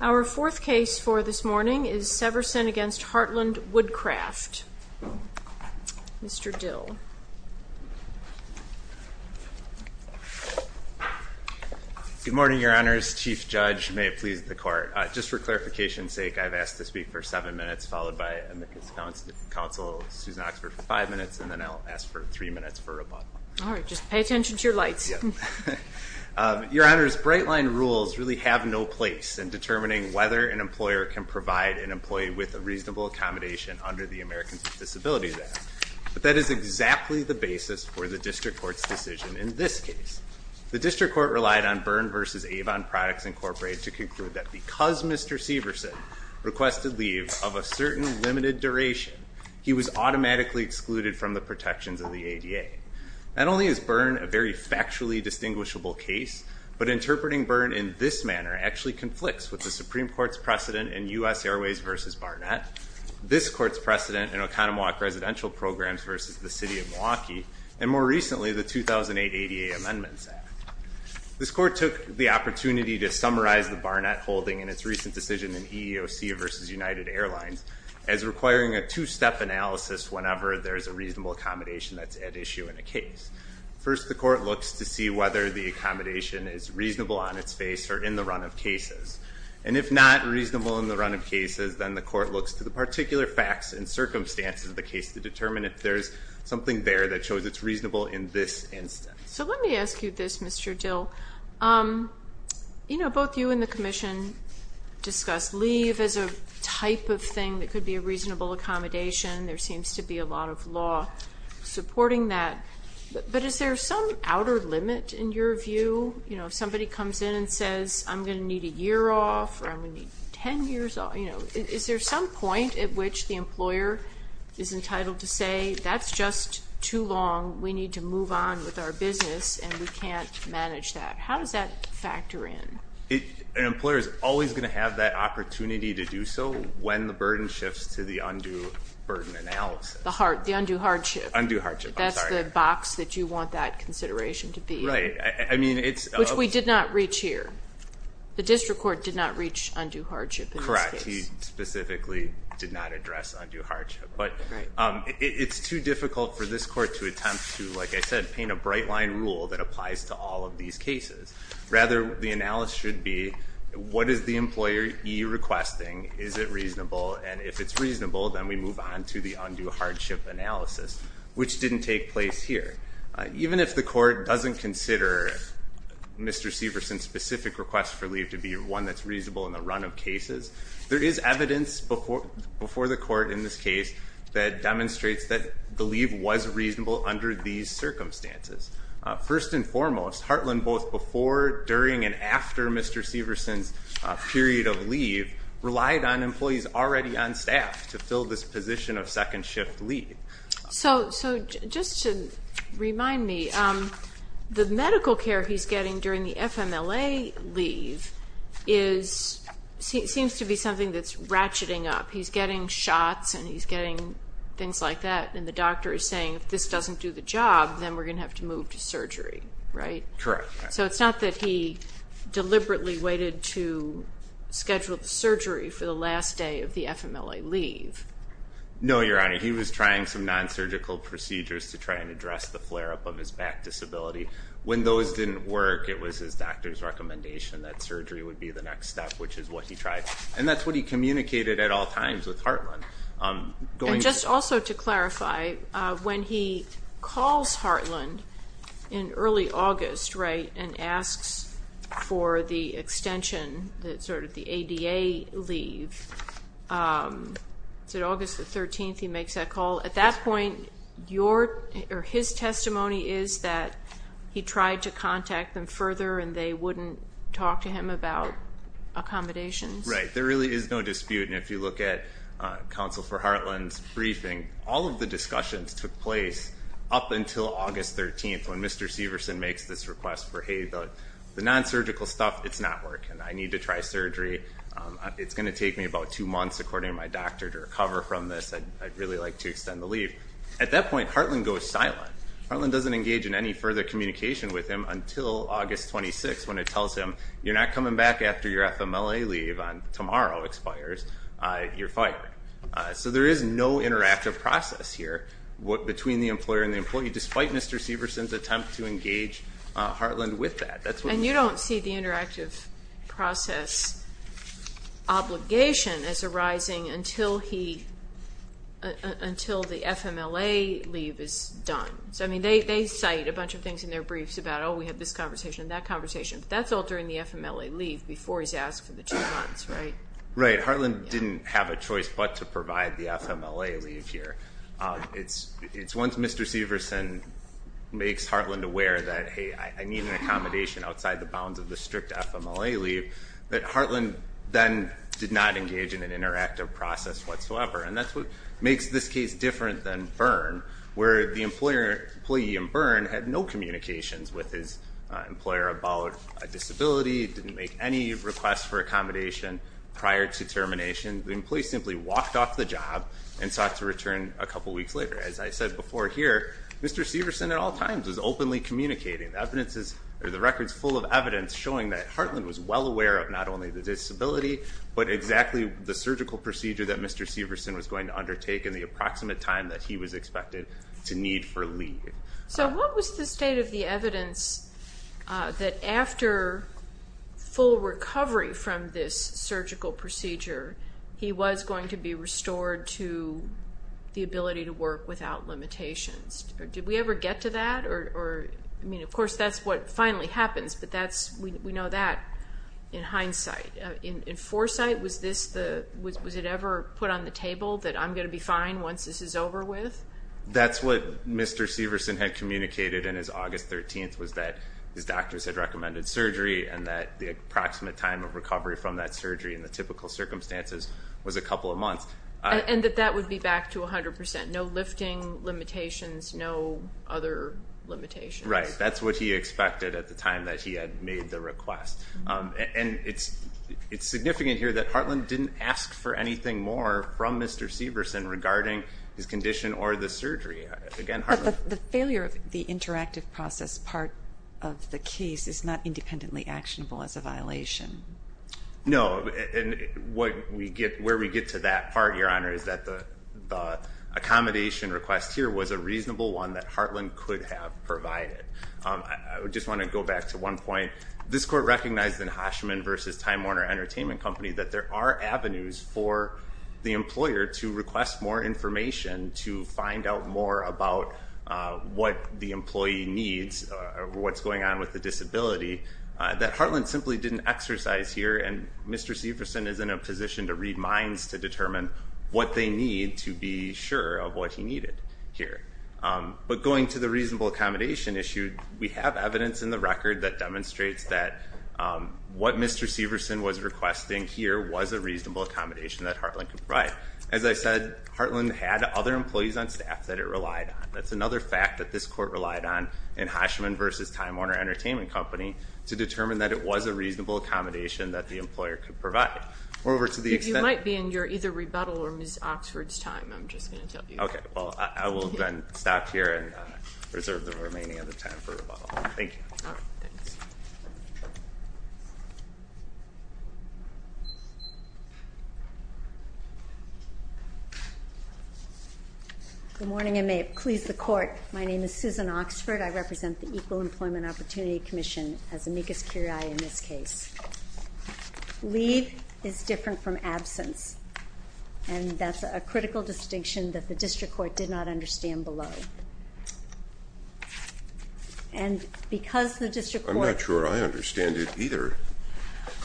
Our fourth case for this morning is Severson v. Heartland Woodcraft. Mr. Dill. Good morning, Your Honors. Chief Judge, may it please the Court. Just for clarification's sake, I've asked to speak for seven minutes, followed by Amicus Counsel Susan Oxford for five minutes, and then I'll ask for three minutes for rebuttal. All right. Just pay attention to your lights. Your Honors, Bright Line rules really have no place in determining whether an employer can provide an employee with a reasonable accommodation under the Americans with Disabilities Act. But that is exactly the basis for the District Court's decision in this case. The District Court relied on Byrne v. Avon Products, Incorporated to conclude that because Mr. Severson requested leave of a certain limited duration, he was automatically excluded from the protections of the ADA. Not only is Byrne a very factually distinguishable case, but interpreting Byrne in this manner actually conflicts with the Supreme Court's precedent in U.S. Airways v. Barnett, this Court's precedent in Oconomowoc Residential Programs v. the City of Milwaukee, and more recently, the 2008 ADA Amendments Act. This Court took the opportunity to summarize the Barnett holding in its recent decision in EEOC v. United Airlines as requiring a two-step analysis whenever there's a reasonable accommodation that's at issue in a case. First, the Court looks to see whether the accommodation is reasonable on its face or in the run of cases. And if not reasonable in the run of cases, then the Court looks to the particular facts and circumstances of the case to determine if there's something there that shows it's reasonable in this instance. So let me ask you this, Mr. Dill. You know, both you and the Commission discussed leave as a type of thing that could be a reasonable accommodation. There seems to be a lot of law supporting that. But is there some outer limit in your view? You know, if somebody comes in and says, I'm going to need a year off or I'm going to need 10 years off, you know, Is there some point at which the employer is entitled to say, that's just too long, we need to move on with our business, and we can't manage that? How does that factor in? An employer is always going to have that opportunity to do so when the burden shifts to the undue burden analysis. The undue hardship. Undue hardship, I'm sorry. That's the box that you want that consideration to be. Right. I mean, it's... Which we did not reach here. The District Court did not reach undue hardship in this case. No, he specifically did not address undue hardship. But it's too difficult for this court to attempt to, like I said, paint a bright line rule that applies to all of these cases. Rather, the analysis should be, what is the employer e-requesting? Is it reasonable? And if it's reasonable, then we move on to the undue hardship analysis, which didn't take place here. Even if the court doesn't consider Mr. Severson's specific request for leave to be one that's reasonable in the run of cases, there is evidence before the court in this case that demonstrates that the leave was reasonable under these circumstances. First and foremost, Heartland, both before, during, and after Mr. Severson's period of leave, relied on employees already on staff to fill this position of second shift leave. So just to remind me, the medical care he's getting during the FMLA leave seems to be something that's ratcheting up. He's getting shots and he's getting things like that, and the doctor is saying, if this doesn't do the job, then we're going to have to move to surgery, right? Correct. So it's not that he deliberately waited to schedule the surgery for the last day of the FMLA leave. No, Your Honor. He was trying some non-surgical procedures to try and address the flare-up of his back disability. When those didn't work, it was his doctor's recommendation that surgery would be the next step, which is what he tried. And that's what he communicated at all times with Heartland. And just also to clarify, when he calls Heartland in early August and asks for the extension, sort of the ADA leave, is it August the 13th he makes that call? At that point, his testimony is that he tried to contact them further and they wouldn't talk to him about accommodations. Right. There really is no dispute. And if you look at Counsel for Heartland's briefing, all of the discussions took place up until August 13th, when Mr. Severson makes this request for, hey, the non-surgical stuff, it's not working. I need to try surgery. It's going to take me about two months, according to my doctor, to recover from this. I'd really like to extend the leave. At that point, Heartland goes silent. Heartland doesn't engage in any further communication with him until August 26th, when it tells him you're not coming back after your FMLA leave on tomorrow expires, you're fired. So there is no interactive process here between the employer and the employee, despite Mr. Severson's attempt to engage Heartland with that. And you don't see the interactive process obligation as arising until the FMLA leave is done. So, I mean, they cite a bunch of things in their briefs about, oh, we have this conversation and that conversation. But that's all during the FMLA leave before he's asked for the two months, right? Right. Heartland didn't have a choice but to provide the FMLA leave here. It's once Mr. Severson makes Heartland aware that, hey, I need an accommodation outside the bounds of the strict FMLA leave, that Heartland then did not engage in an interactive process whatsoever. And that's what makes this case different than Byrne, where the employee in Byrne had no communications with his employer about a disability, didn't make any requests for accommodation prior to termination. The employee simply walked off the job and sought to return a couple weeks later. As I said before here, Mr. Severson at all times is openly communicating. The record is full of evidence showing that Heartland was well aware of not only the disability, but exactly the surgical procedure that Mr. Severson was going to undertake in the approximate time that he was expected to need for leave. So what was the state of the evidence that after full recovery from this surgical procedure, he was going to be restored to the ability to work without limitations? Did we ever get to that? Of course, that's what finally happens, but we know that in hindsight. In foresight, was it ever put on the table that I'm going to be fine once this is over with? That's what Mr. Severson had communicated in his August 13th, was that his doctors had recommended surgery and that the approximate time of recovery from that surgery And that that would be back to 100%, no lifting limitations, no other limitations. Right, that's what he expected at the time that he had made the request. And it's significant here that Heartland didn't ask for anything more from Mr. Severson regarding his condition or the surgery. The failure of the interactive process part of the case is not independently actionable as a violation. No, and where we get to that part, Your Honor, is that the accommodation request here was a reasonable one that Heartland could have provided. I just want to go back to one point. This court recognized in Hoshman v. Time Warner Entertainment Company that there are avenues for the employer to request more information to find out more about what the employee needs or what's going on with the disability that Heartland simply didn't exercise here and Mr. Severson is in a position to read minds to determine what they need to be sure of what he needed here. But going to the reasonable accommodation issue, we have evidence in the record that demonstrates that what Mr. Severson was requesting here was a reasonable accommodation that Heartland could provide. As I said, Heartland had other employees on staff that it relied on. That's another fact that this court relied on in Hoshman v. Time Warner Entertainment Company to determine that it was a reasonable accommodation that the employer could provide. You might be in your either rebuttal or Ms. Oxford's time. I'm just going to tell you. Okay. Well, I will then stop here and reserve the remaining of the time for rebuttal. Thank you. Oh, thanks. Good morning and may it please the court. My name is Susan Oxford. I represent the Equal Employment Opportunity Commission as amicus curiae in this case. Leave is different from absence and that's a critical distinction that the district court did not understand below. And because the district court... I'm not sure I understand it either.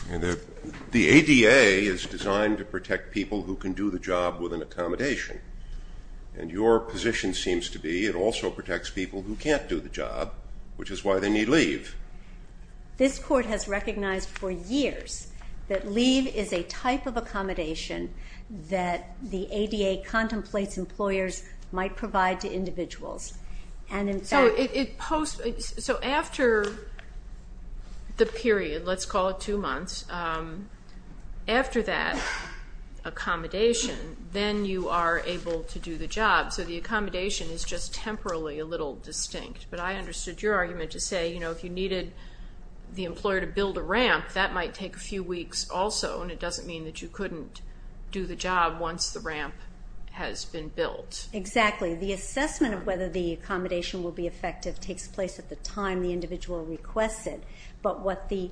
The ADA is designed to protect people who can do the job with an accommodation and your position seems to be it also protects people who can't do the job, which is why they need leave. This court has recognized for years that leave is a type of accommodation that the ADA contemplates employers might provide to individuals. So after the period, let's call it two months, after that accommodation, then you are able to do the job. So the accommodation is just temporally a little distinct. But I understood your argument to say, you know, if you needed the employer to build a ramp, that might take a few weeks also and it doesn't mean that you couldn't do the job once the ramp has been built. Exactly. The assessment of whether the accommodation will be effective takes place at the time the individual requests it. But what the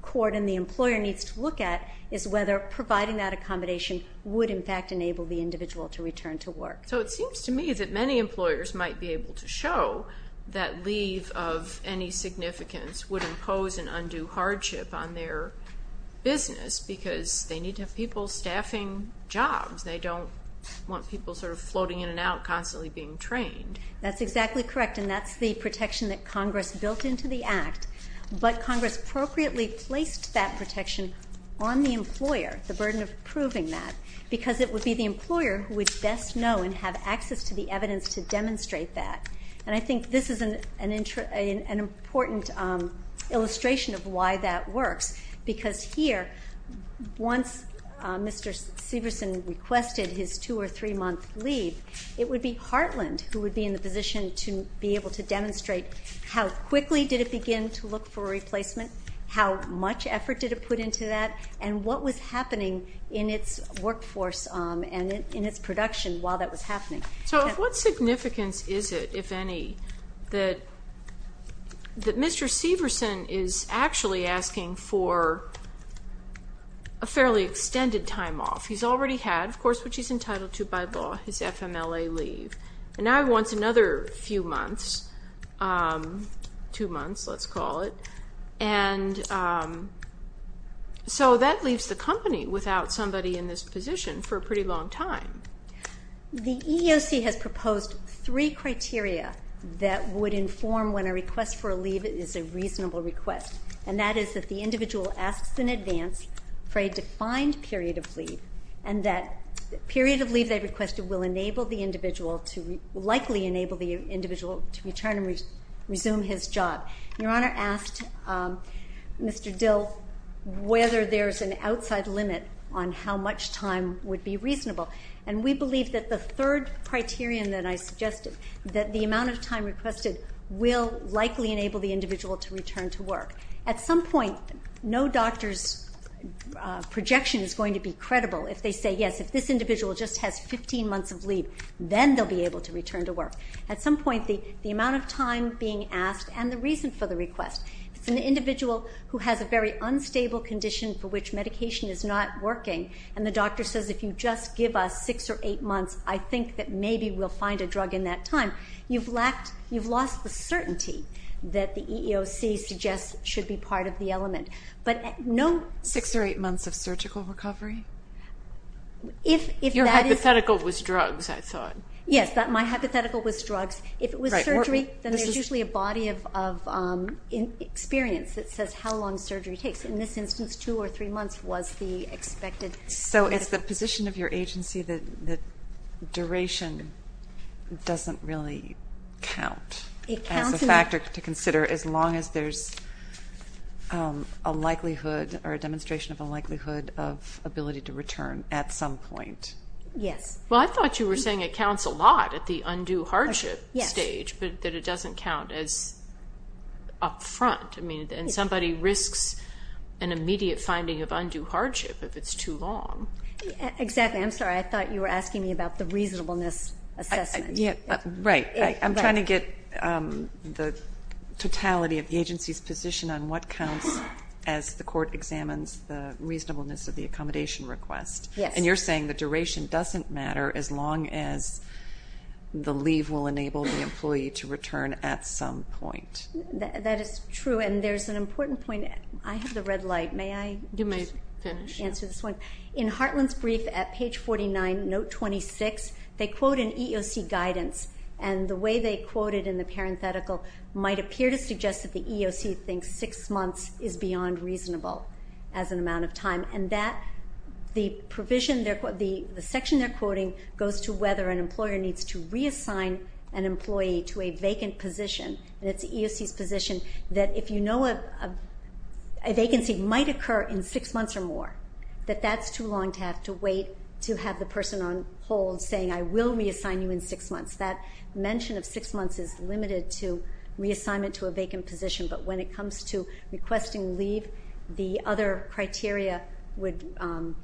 court and the employer needs to look at is whether providing that accommodation would, in fact, enable the individual to return to work. So it seems to me that many employers might be able to show that leave of any significance would impose an undue hardship on their business because they need to have people staffing jobs. They don't want people sort of floating in and out, constantly being trained. That's exactly correct, and that's the protection that Congress built into the Act. But Congress appropriately placed that protection on the employer, the burden of proving that, because it would be the employer who would best know and have access to the evidence to demonstrate that. And I think this is an important illustration of why that works, because here, once Mr. Severson requested his two- or three-month leave, it would be Heartland who would be in the position to be able to demonstrate how quickly did it begin to look for a replacement, how much effort did it put into that, and what was happening in its workforce and in its production while that was happening. So what significance is it, if any, that Mr. Severson is actually asking for a fairly extended time off? He's already had, of course, what he's entitled to by law, his FMLA leave. And now he wants another few months, two months, let's call it. And so that leaves the company without somebody in this position for a pretty long time. The EEOC has proposed three criteria that would inform when a request for a leave is a reasonable request, and that is that the individual asks in advance for a defined period of leave and that the period of leave they requested will likely enable the individual to return and resume his job. Your Honor asked Mr. Dill whether there's an outside limit on how much time would be reasonable, and we believe that the third criterion that I suggested, that the amount of time requested will likely enable the individual to return to work. At some point, no doctor's projection is going to be credible if they say, yes, if this individual just has 15 months of leave, then they'll be able to return to work. At some point, the amount of time being asked and the reason for the request, if it's an individual who has a very unstable condition for which medication is not working and the doctor says, if you just give us six or eight months, I think that maybe we'll find a drug in that time, you've lost the certainty that the EEOC suggests should be part of the element. Six or eight months of surgical recovery? Your hypothetical was drugs, I thought. Yes, my hypothetical was drugs. If it was surgery, then there's usually a body of experience that says how long surgery takes. In this instance, two or three months was the expected. So it's the position of your agency that duration doesn't really count as a factor to consider as long as there's a likelihood or a demonstration of a likelihood of ability to return at some point. Yes. Well, I thought you were saying it counts a lot at the undue hardship stage, but that it doesn't count as upfront. I mean, and somebody risks an immediate finding of undue hardship if it's too long. Exactly. I'm sorry, I thought you were asking me about the reasonableness assessment. Right. I'm trying to get the totality of the agency's position on what counts as the court examines the reasonableness of the accommodation request. And you're saying the duration doesn't matter as long as the leave will enable the employee to return at some point. That is true, and there's an important point. I have the red light. May I just answer this one? You may finish. In Heartland's brief at page 49, note 26, they quote an EEOC guidance, and the way they quote it in the parenthetical might appear to suggest that the EEOC thinks six months is beyond reasonable as an amount of time. And the section they're quoting goes to whether an employer needs to reassign an employee to a vacant position, and it's the EEOC's position that if you know a vacancy might occur in six months or more, that that's too long to have to wait to have the person on hold saying, I will reassign you in six months. That mention of six months is limited to reassignment to a vacant position, but when it comes to requesting leave, the other criteria would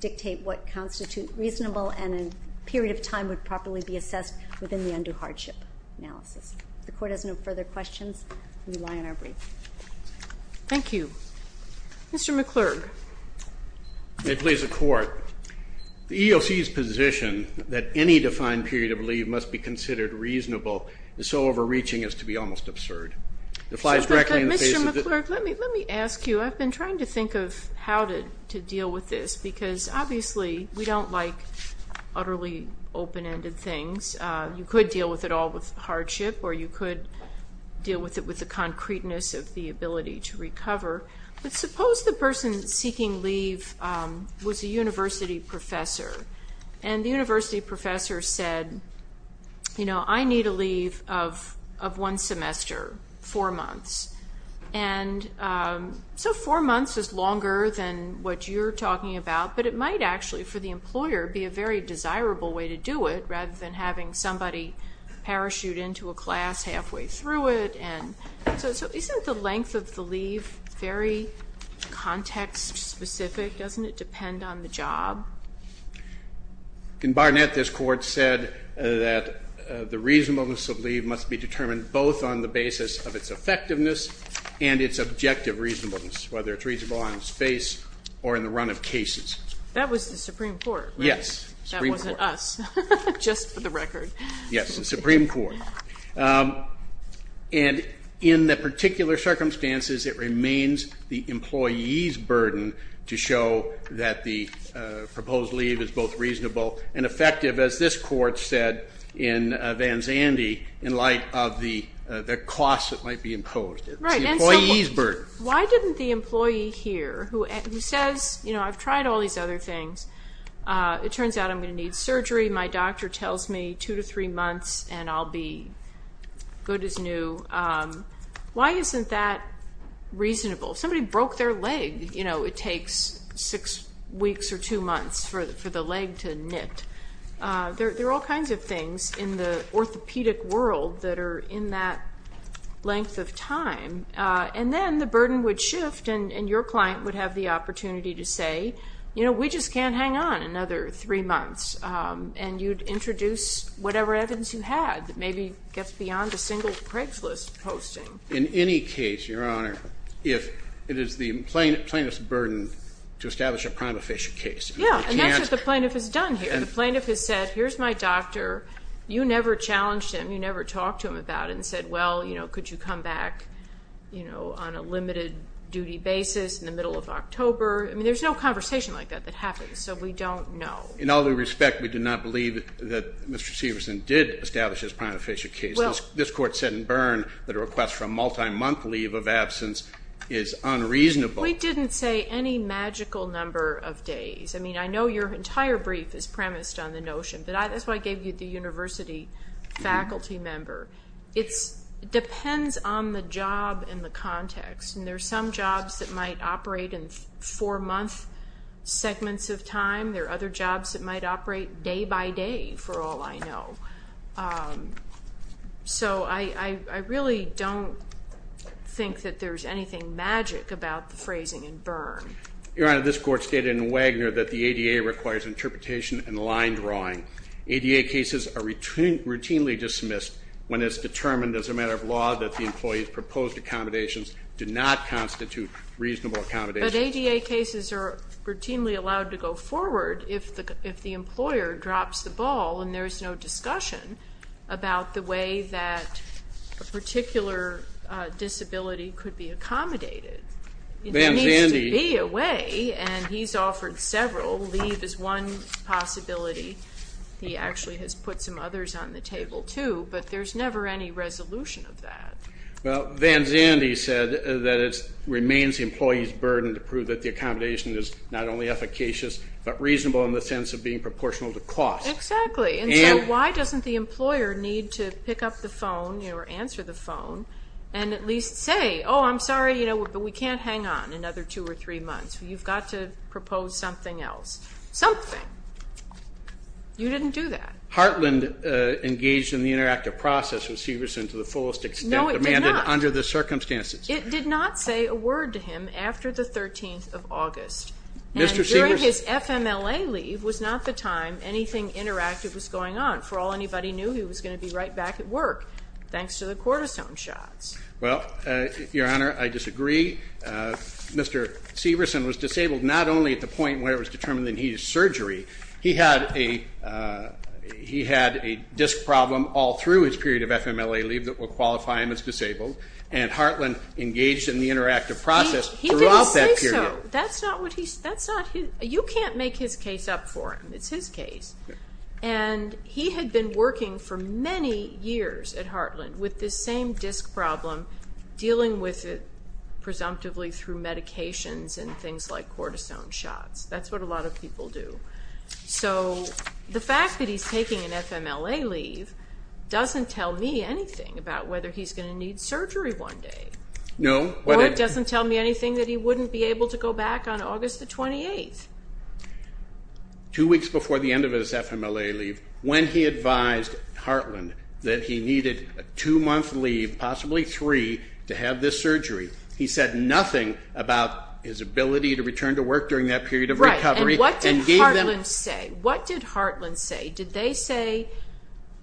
dictate what constitutes reasonable and a period of time would properly be assessed within the undue hardship analysis. If the Court has no further questions, we rely on our brief. Thank you. Mr. McClurg. May it please the Court. The EEOC's position that any defined period of leave must be considered reasonable is so overreaching as to be almost absurd. It applies directly in the face of the Mr. McClurg, let me ask you. I've been trying to think of how to deal with this because, obviously, we don't like utterly open-ended things. You could deal with it all with hardship or you could deal with it with the concreteness of the ability to recover, but suppose the person seeking leave was a university professor and the university professor said, you know, I need a leave of one semester, four months. And so four months is longer than what you're talking about, but it might actually, for the employer, be a very desirable way to do it rather than having somebody parachute into a class halfway through it. So isn't the length of the leave very context-specific? Doesn't it depend on the job? In Barnett, this Court said that the reasonableness of leave must be determined both on the basis of its effectiveness and its objective reasonableness, whether it's reasonable on its face or in the run of cases. That was the Supreme Court, right? Yes, Supreme Court. That wasn't us, just for the record. Yes, the Supreme Court. And in the particular circumstances, it remains the employee's burden to show that the proposed leave is both reasonable and effective, as this Court said in Van Zandy, in light of the costs that might be imposed. Right. It's the employee's burden. Why didn't the employee here, who says, you know, I've tried all these other things. It turns out I'm going to need surgery. My doctor tells me two to three months and I'll be good as new. Why isn't that reasonable? If somebody broke their leg, you know, it takes six weeks or two months for the leg to knit. There are all kinds of things in the orthopedic world that are in that length of time. And then the burden would shift and your client would have the opportunity to say, you know, we just can't hang on another three months. And you'd introduce whatever evidence you had that maybe gets beyond a single Craigslist posting. In any case, Your Honor, if it is the plaintiff's burden to establish a prima facie case. Yeah, and that's what the plaintiff has done here. The plaintiff has said, here's my doctor. You never challenged him. You never talked to him about it and said, well, you know, could you come back, you know, on a limited duty basis in the middle of October. I mean, there's no conversation like that that happens. So we don't know. In all due respect, we do not believe that Mr. Severson did establish his prima facie case. This Court said in Byrne that a request for a multi-month leave of absence is unreasonable. We didn't say any magical number of days. I mean, I know your entire brief is premised on the notion. That's why I gave you the university faculty member. It depends on the job and the context. And there are some jobs that might operate in four-month segments of time. There are other jobs that might operate day by day, for all I know. So I really don't think that there's anything magic about the phrasing in Byrne. Your Honor, this Court stated in Wagner that the ADA requires interpretation and line drawing. ADA cases are routinely dismissed when it's determined as a matter of law that the employee's proposed accommodations do not constitute reasonable accommodations. But ADA cases are routinely allowed to go forward if the employer drops the ball and there is no discussion about the way that a particular disability could be accommodated. It needs to be a way, and he's offered several. Leave is one possibility. He actually has put some others on the table too, but there's never any resolution of that. Well, Van Zandy said that it remains the employee's burden to prove that the accommodation is not only efficacious but reasonable in the sense of being proportional to cost. Exactly, and so why doesn't the employer need to pick up the phone or answer the phone and at least say, oh, I'm sorry, but we can't hang on another two or three months. You've got to propose something else. Something. You didn't do that. Heartland engaged in the interactive process with Severson to the fullest extent demanded under the circumstances. It did not say a word to him after the 13th of August. And during his FMLA leave was not the time anything interactive was going on. For all anybody knew, he was going to be right back at work thanks to the cortisone shots. Well, Your Honor, I disagree. Mr. Severson was disabled not only at the point where it was determined that he had surgery. He had a disc problem all through his period of FMLA leave that would qualify him as disabled, and Heartland engaged in the interactive process throughout that period. He didn't say so. You can't make his case up for him. It's his case. And he had been working for many years at Heartland with this same disc problem, dealing with it presumptively through medications and things like cortisone shots. That's what a lot of people do. So the fact that he's taking an FMLA leave doesn't tell me anything about whether he's going to need surgery one day. No. Or it doesn't tell me anything that he wouldn't be able to go back on August the 28th. Two weeks before the end of his FMLA leave, when he advised Heartland that he needed a two-month leave, possibly three, to have this surgery, he said nothing about his ability to return to work during that period of recovery. Right, and what did Heartland say? What did Heartland say? Did they say,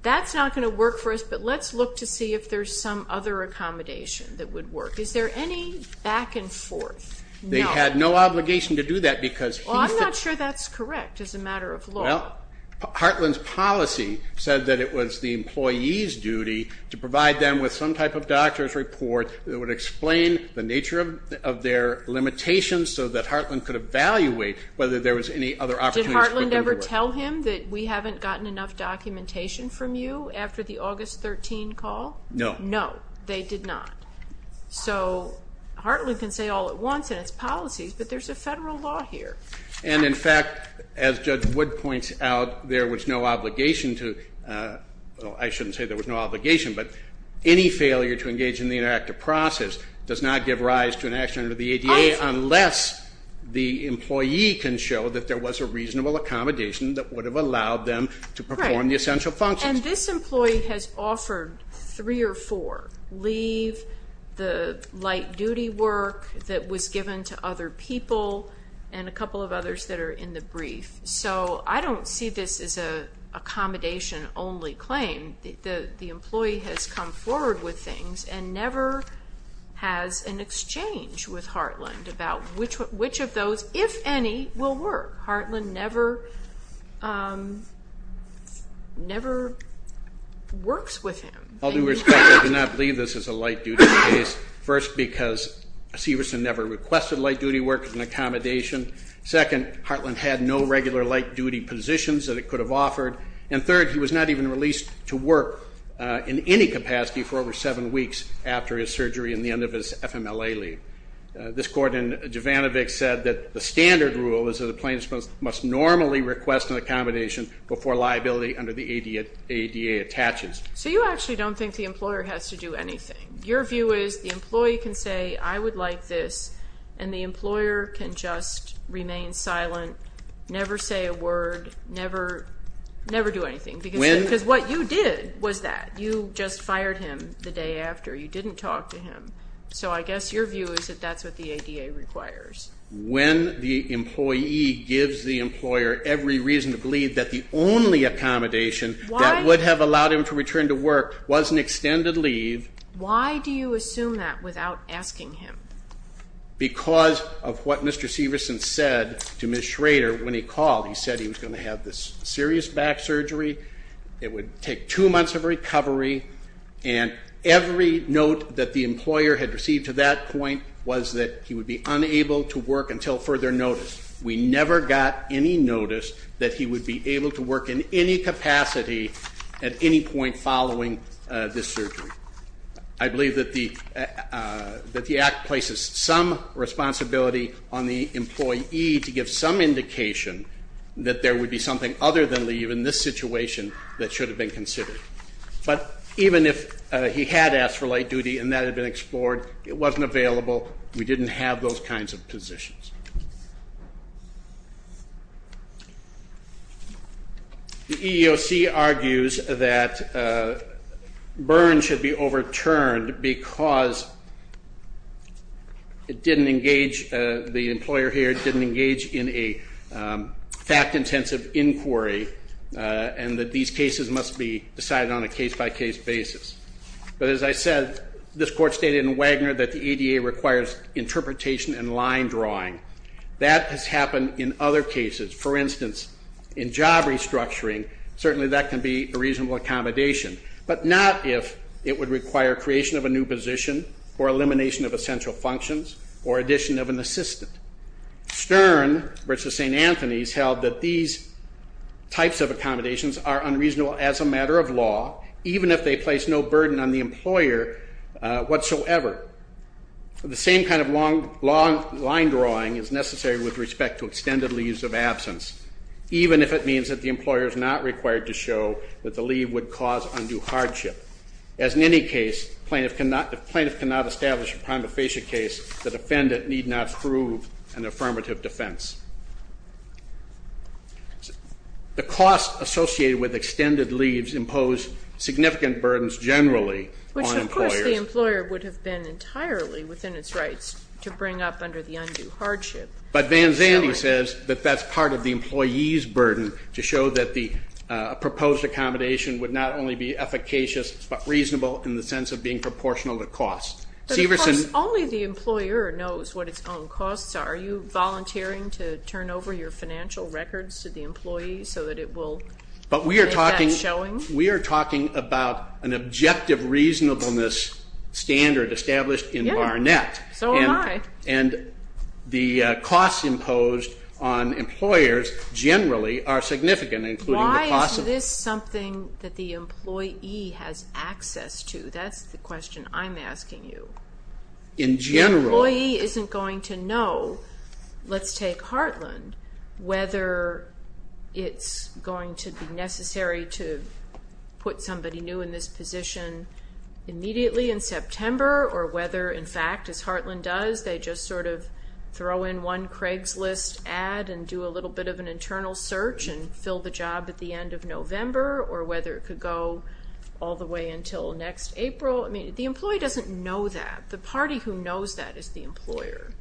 that's not going to work for us, but let's look to see if there's some other accommodation that would work? Is there any back and forth? No. They had no obligation to do that because he said. Well, I'm not sure that's correct as a matter of law. Well, Heartland's policy said that it was the employee's duty to provide them with some type of doctor's report that would explain the nature of their limitations so that Heartland could evaluate whether there was any other opportunities. Did Heartland ever tell him that we haven't gotten enough documentation from you after the August 13 call? No. No, they did not. So Heartland can say all at once in its policies, but there's a federal law here. And, in fact, as Judge Wood points out, there was no obligation to, well, I shouldn't say there was no obligation, but any failure to engage in the interactive process does not give rise to an action under the ADA unless the employee can show that there was a reasonable accommodation that would have allowed them to perform the essential functions. And this employee has offered three or four, leave, the light-duty work that was given to other people, and a couple of others that are in the brief. So I don't see this as an accommodation-only claim. The employee has come forward with things and never has an exchange with Heartland about which of those, if any, will work. Heartland never works with him. I'll do respect. I do not believe this is a light-duty case. First, because Severson never requested light-duty work as an accommodation. Second, Heartland had no regular light-duty positions that it could have offered. And third, he was not even released to work in any capacity for over seven weeks after his surgery and the end of his FMLA leave. This court in Jovanovich said that the standard rule is that a plaintiff must normally request an accommodation before liability under the ADA attaches. So you actually don't think the employer has to do anything. Your view is the employee can say, I would like this, and the employer can just remain silent, never say a word, never do anything, because what you did was that. You just fired him the day after. You didn't talk to him. So I guess your view is that that's what the ADA requires. When the employee gives the employer every reason to believe that the only accommodation that would have allowed him to return to work was an extended leave. Why do you assume that without asking him? Because of what Mr. Severson said to Ms. Schrader when he called. He said he was going to have this serious back surgery, it would take two months of recovery, and every note that the employer had received to that point was that he would be unable to work until further notice. We never got any notice that he would be able to work in any capacity at any point following this surgery. I believe that the Act places some responsibility on the employee to give some indication that there would be something other than leave in this situation that should have been considered. But even if he had asked for late duty and that had been explored, it wasn't available, we didn't have those kinds of positions. The EEOC argues that Byrne should be overturned because it didn't engage, the employer here didn't engage in a fact-intensive inquiry and that these cases must be decided on a case-by-case basis. But as I said, this Court stated in Wagner that the ADA requires interpretation and line drawing. That has happened in other cases. For instance, in job restructuring, certainly that can be a reasonable accommodation, but not if it would require creation of a new position or elimination of essential functions or addition of an assistant. Stern v. St. Anthony's held that these types of accommodations are unreasonable as a matter of law, even if they place no burden on the employer whatsoever. The same kind of long line drawing is necessary with respect to extended leaves of absence, even if it means that the employer is not required to show that the leave would cause undue hardship. As in any case, if plaintiff cannot establish a prima facie case, the defendant need not prove an affirmative defense. The costs associated with extended leaves impose significant burdens generally on employers. Which, of course, the employer would have been entirely within its rights to bring up under the undue hardship. But Van Zandy says that that's part of the employee's burden to show that the proposed accommodation would not only be efficacious but reasonable in the sense of being proportional to cost. But of course, only the employer knows what its own costs are. Are you volunteering to turn over your financial records to the employee so that it will make that showing? But we are talking about an objective reasonableness standard established in Barnett. Yes, so am I. And the costs imposed on employers generally are significant, including the cost of- Why is this something that the employee has access to? That's the question I'm asking you. In general- The employee isn't going to know, let's take Heartland, whether it's going to be necessary to put somebody new in this position immediately in September or whether, in fact, as Heartland does, they just sort of throw in one Craigslist ad and do a little bit of an internal search and fill the job at the end of November or whether it could go all the way until next April. I mean, the employee doesn't know that. The party who knows that is the employer.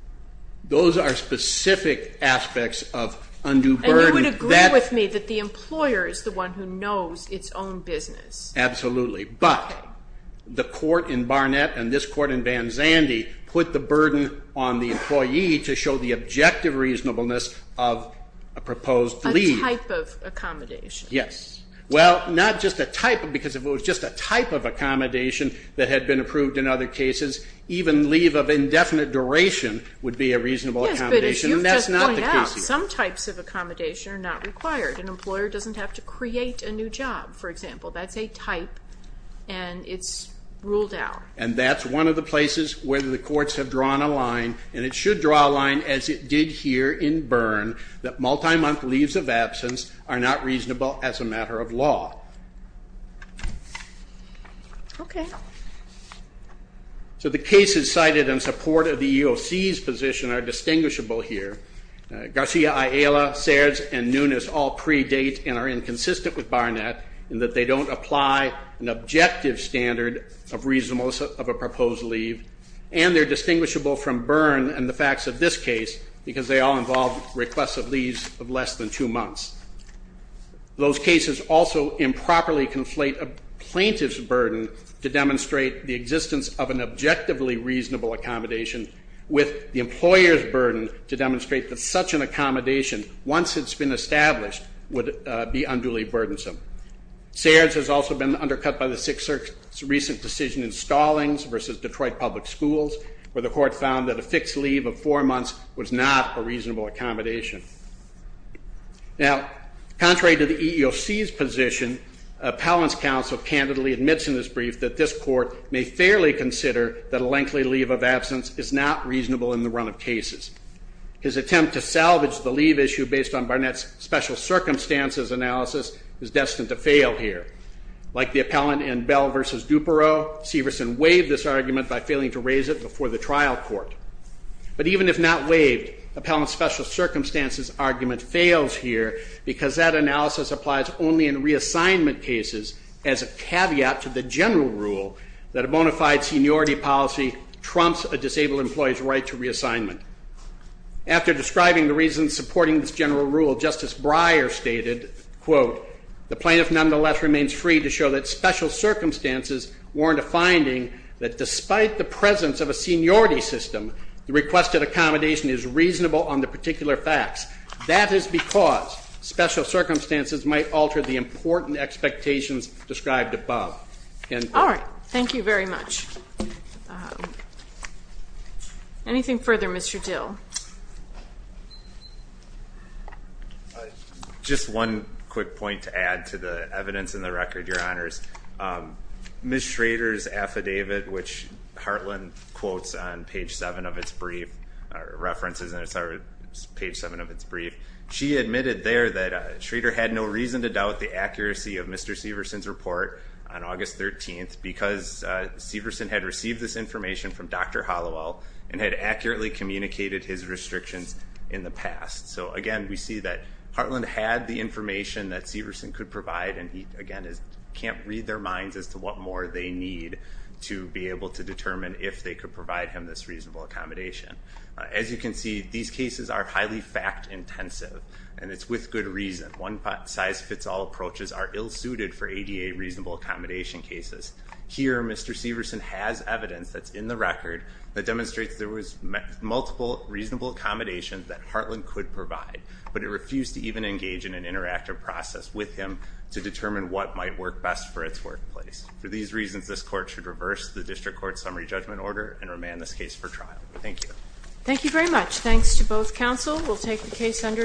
Those are specific aspects of undue burden. And you would agree with me that the employer is the one who knows its own business. Absolutely. But the court in Barnett and this court in Van Zandy put the burden on the employee to show the objective reasonableness of a proposed leave. A type of accommodation. Yes. Well, not just a type because if it was just a type of accommodation that had been approved in other cases, even leave of indefinite duration would be a reasonable accommodation. Yes, but as you've just pointed out, some types of accommodation are not required. An employer doesn't have to create a new job, for example. That's a type, and it's ruled out. And that's one of the places where the courts have drawn a line, and it should draw a line as it did here in Barn that multi-month leaves of absence are not reasonable as a matter of law. Okay. So the cases cited in support of the EOC's position are distinguishable here. Garcia, Ayala, Serds, and Nunes all predate and are inconsistent with Barnett in that they don't apply an objective standard of reasonableness of a proposed leave, and they're distinguishable from Byrne and the facts of this case because they all involve requests of leaves of less than two months. Those cases also improperly conflate a plaintiff's burden to demonstrate the existence of an objectively reasonable accommodation with the employer's burden to demonstrate that such an accommodation, once it's been established, would be unduly burdensome. Serds has also been undercut by the Sixth Circuit's recent decision in Stallings versus Detroit Public Schools, where the court found that a fixed leave of four months was not a reasonable accommodation. Now, contrary to the EEOC's position, appellant's counsel candidly admits in this brief that this court may fairly consider that a lengthy leave of absence is not reasonable in the run of cases. His attempt to salvage the leave issue based on Barnett's special circumstances analysis is destined to fail here. Like the appellant in Bell versus Dupereaux, Severson waived this argument by failing to raise it before the trial court. But even if not waived, appellant's special circumstances argument fails here because that analysis applies only in reassignment cases as a caveat to the general rule that a bona fide seniority policy trumps a disabled employee's right to reassignment. After describing the reasons supporting this general rule, Justice Breyer stated, quote, the plaintiff nonetheless remains free to show that special circumstances warrant a finding that despite the presence of a seniority system, the requested accommodation is reasonable on the particular facts. That is because special circumstances might alter the important expectations described above. All right. Thank you very much. Anything further, Mr. Dill? Just one quick point to add to the evidence in the record, Your Honors. Ms. Schrader's affidavit, which Heartland quotes on page 7 of its brief, references page 7 of its brief, she admitted there that Schrader had no reason to doubt the accuracy of Mr. Severson's report on August 13th because Severson had received this information from Dr. Hollowell and had accurately communicated his restrictions in the past. So, again, we see that Heartland had the information that Severson could provide and he, again, can't read their minds as to what more they need to be able to determine if they could provide him this reasonable accommodation. As you can see, these cases are highly fact-intensive, and it's with good reason. One-size-fits-all approaches are ill-suited for ADA reasonable accommodation cases. Here, Mr. Severson has evidence that's in the record that demonstrates there was multiple reasonable accommodations that Heartland could provide, but it refused to even engage in an interactive process with him to determine what might work best for its workplace. For these reasons, this Court should reverse the District Court's summary judgment order and remand this case for trial. Thank you. Thank you very much. Thanks to both counsel. We'll take the case under advisement.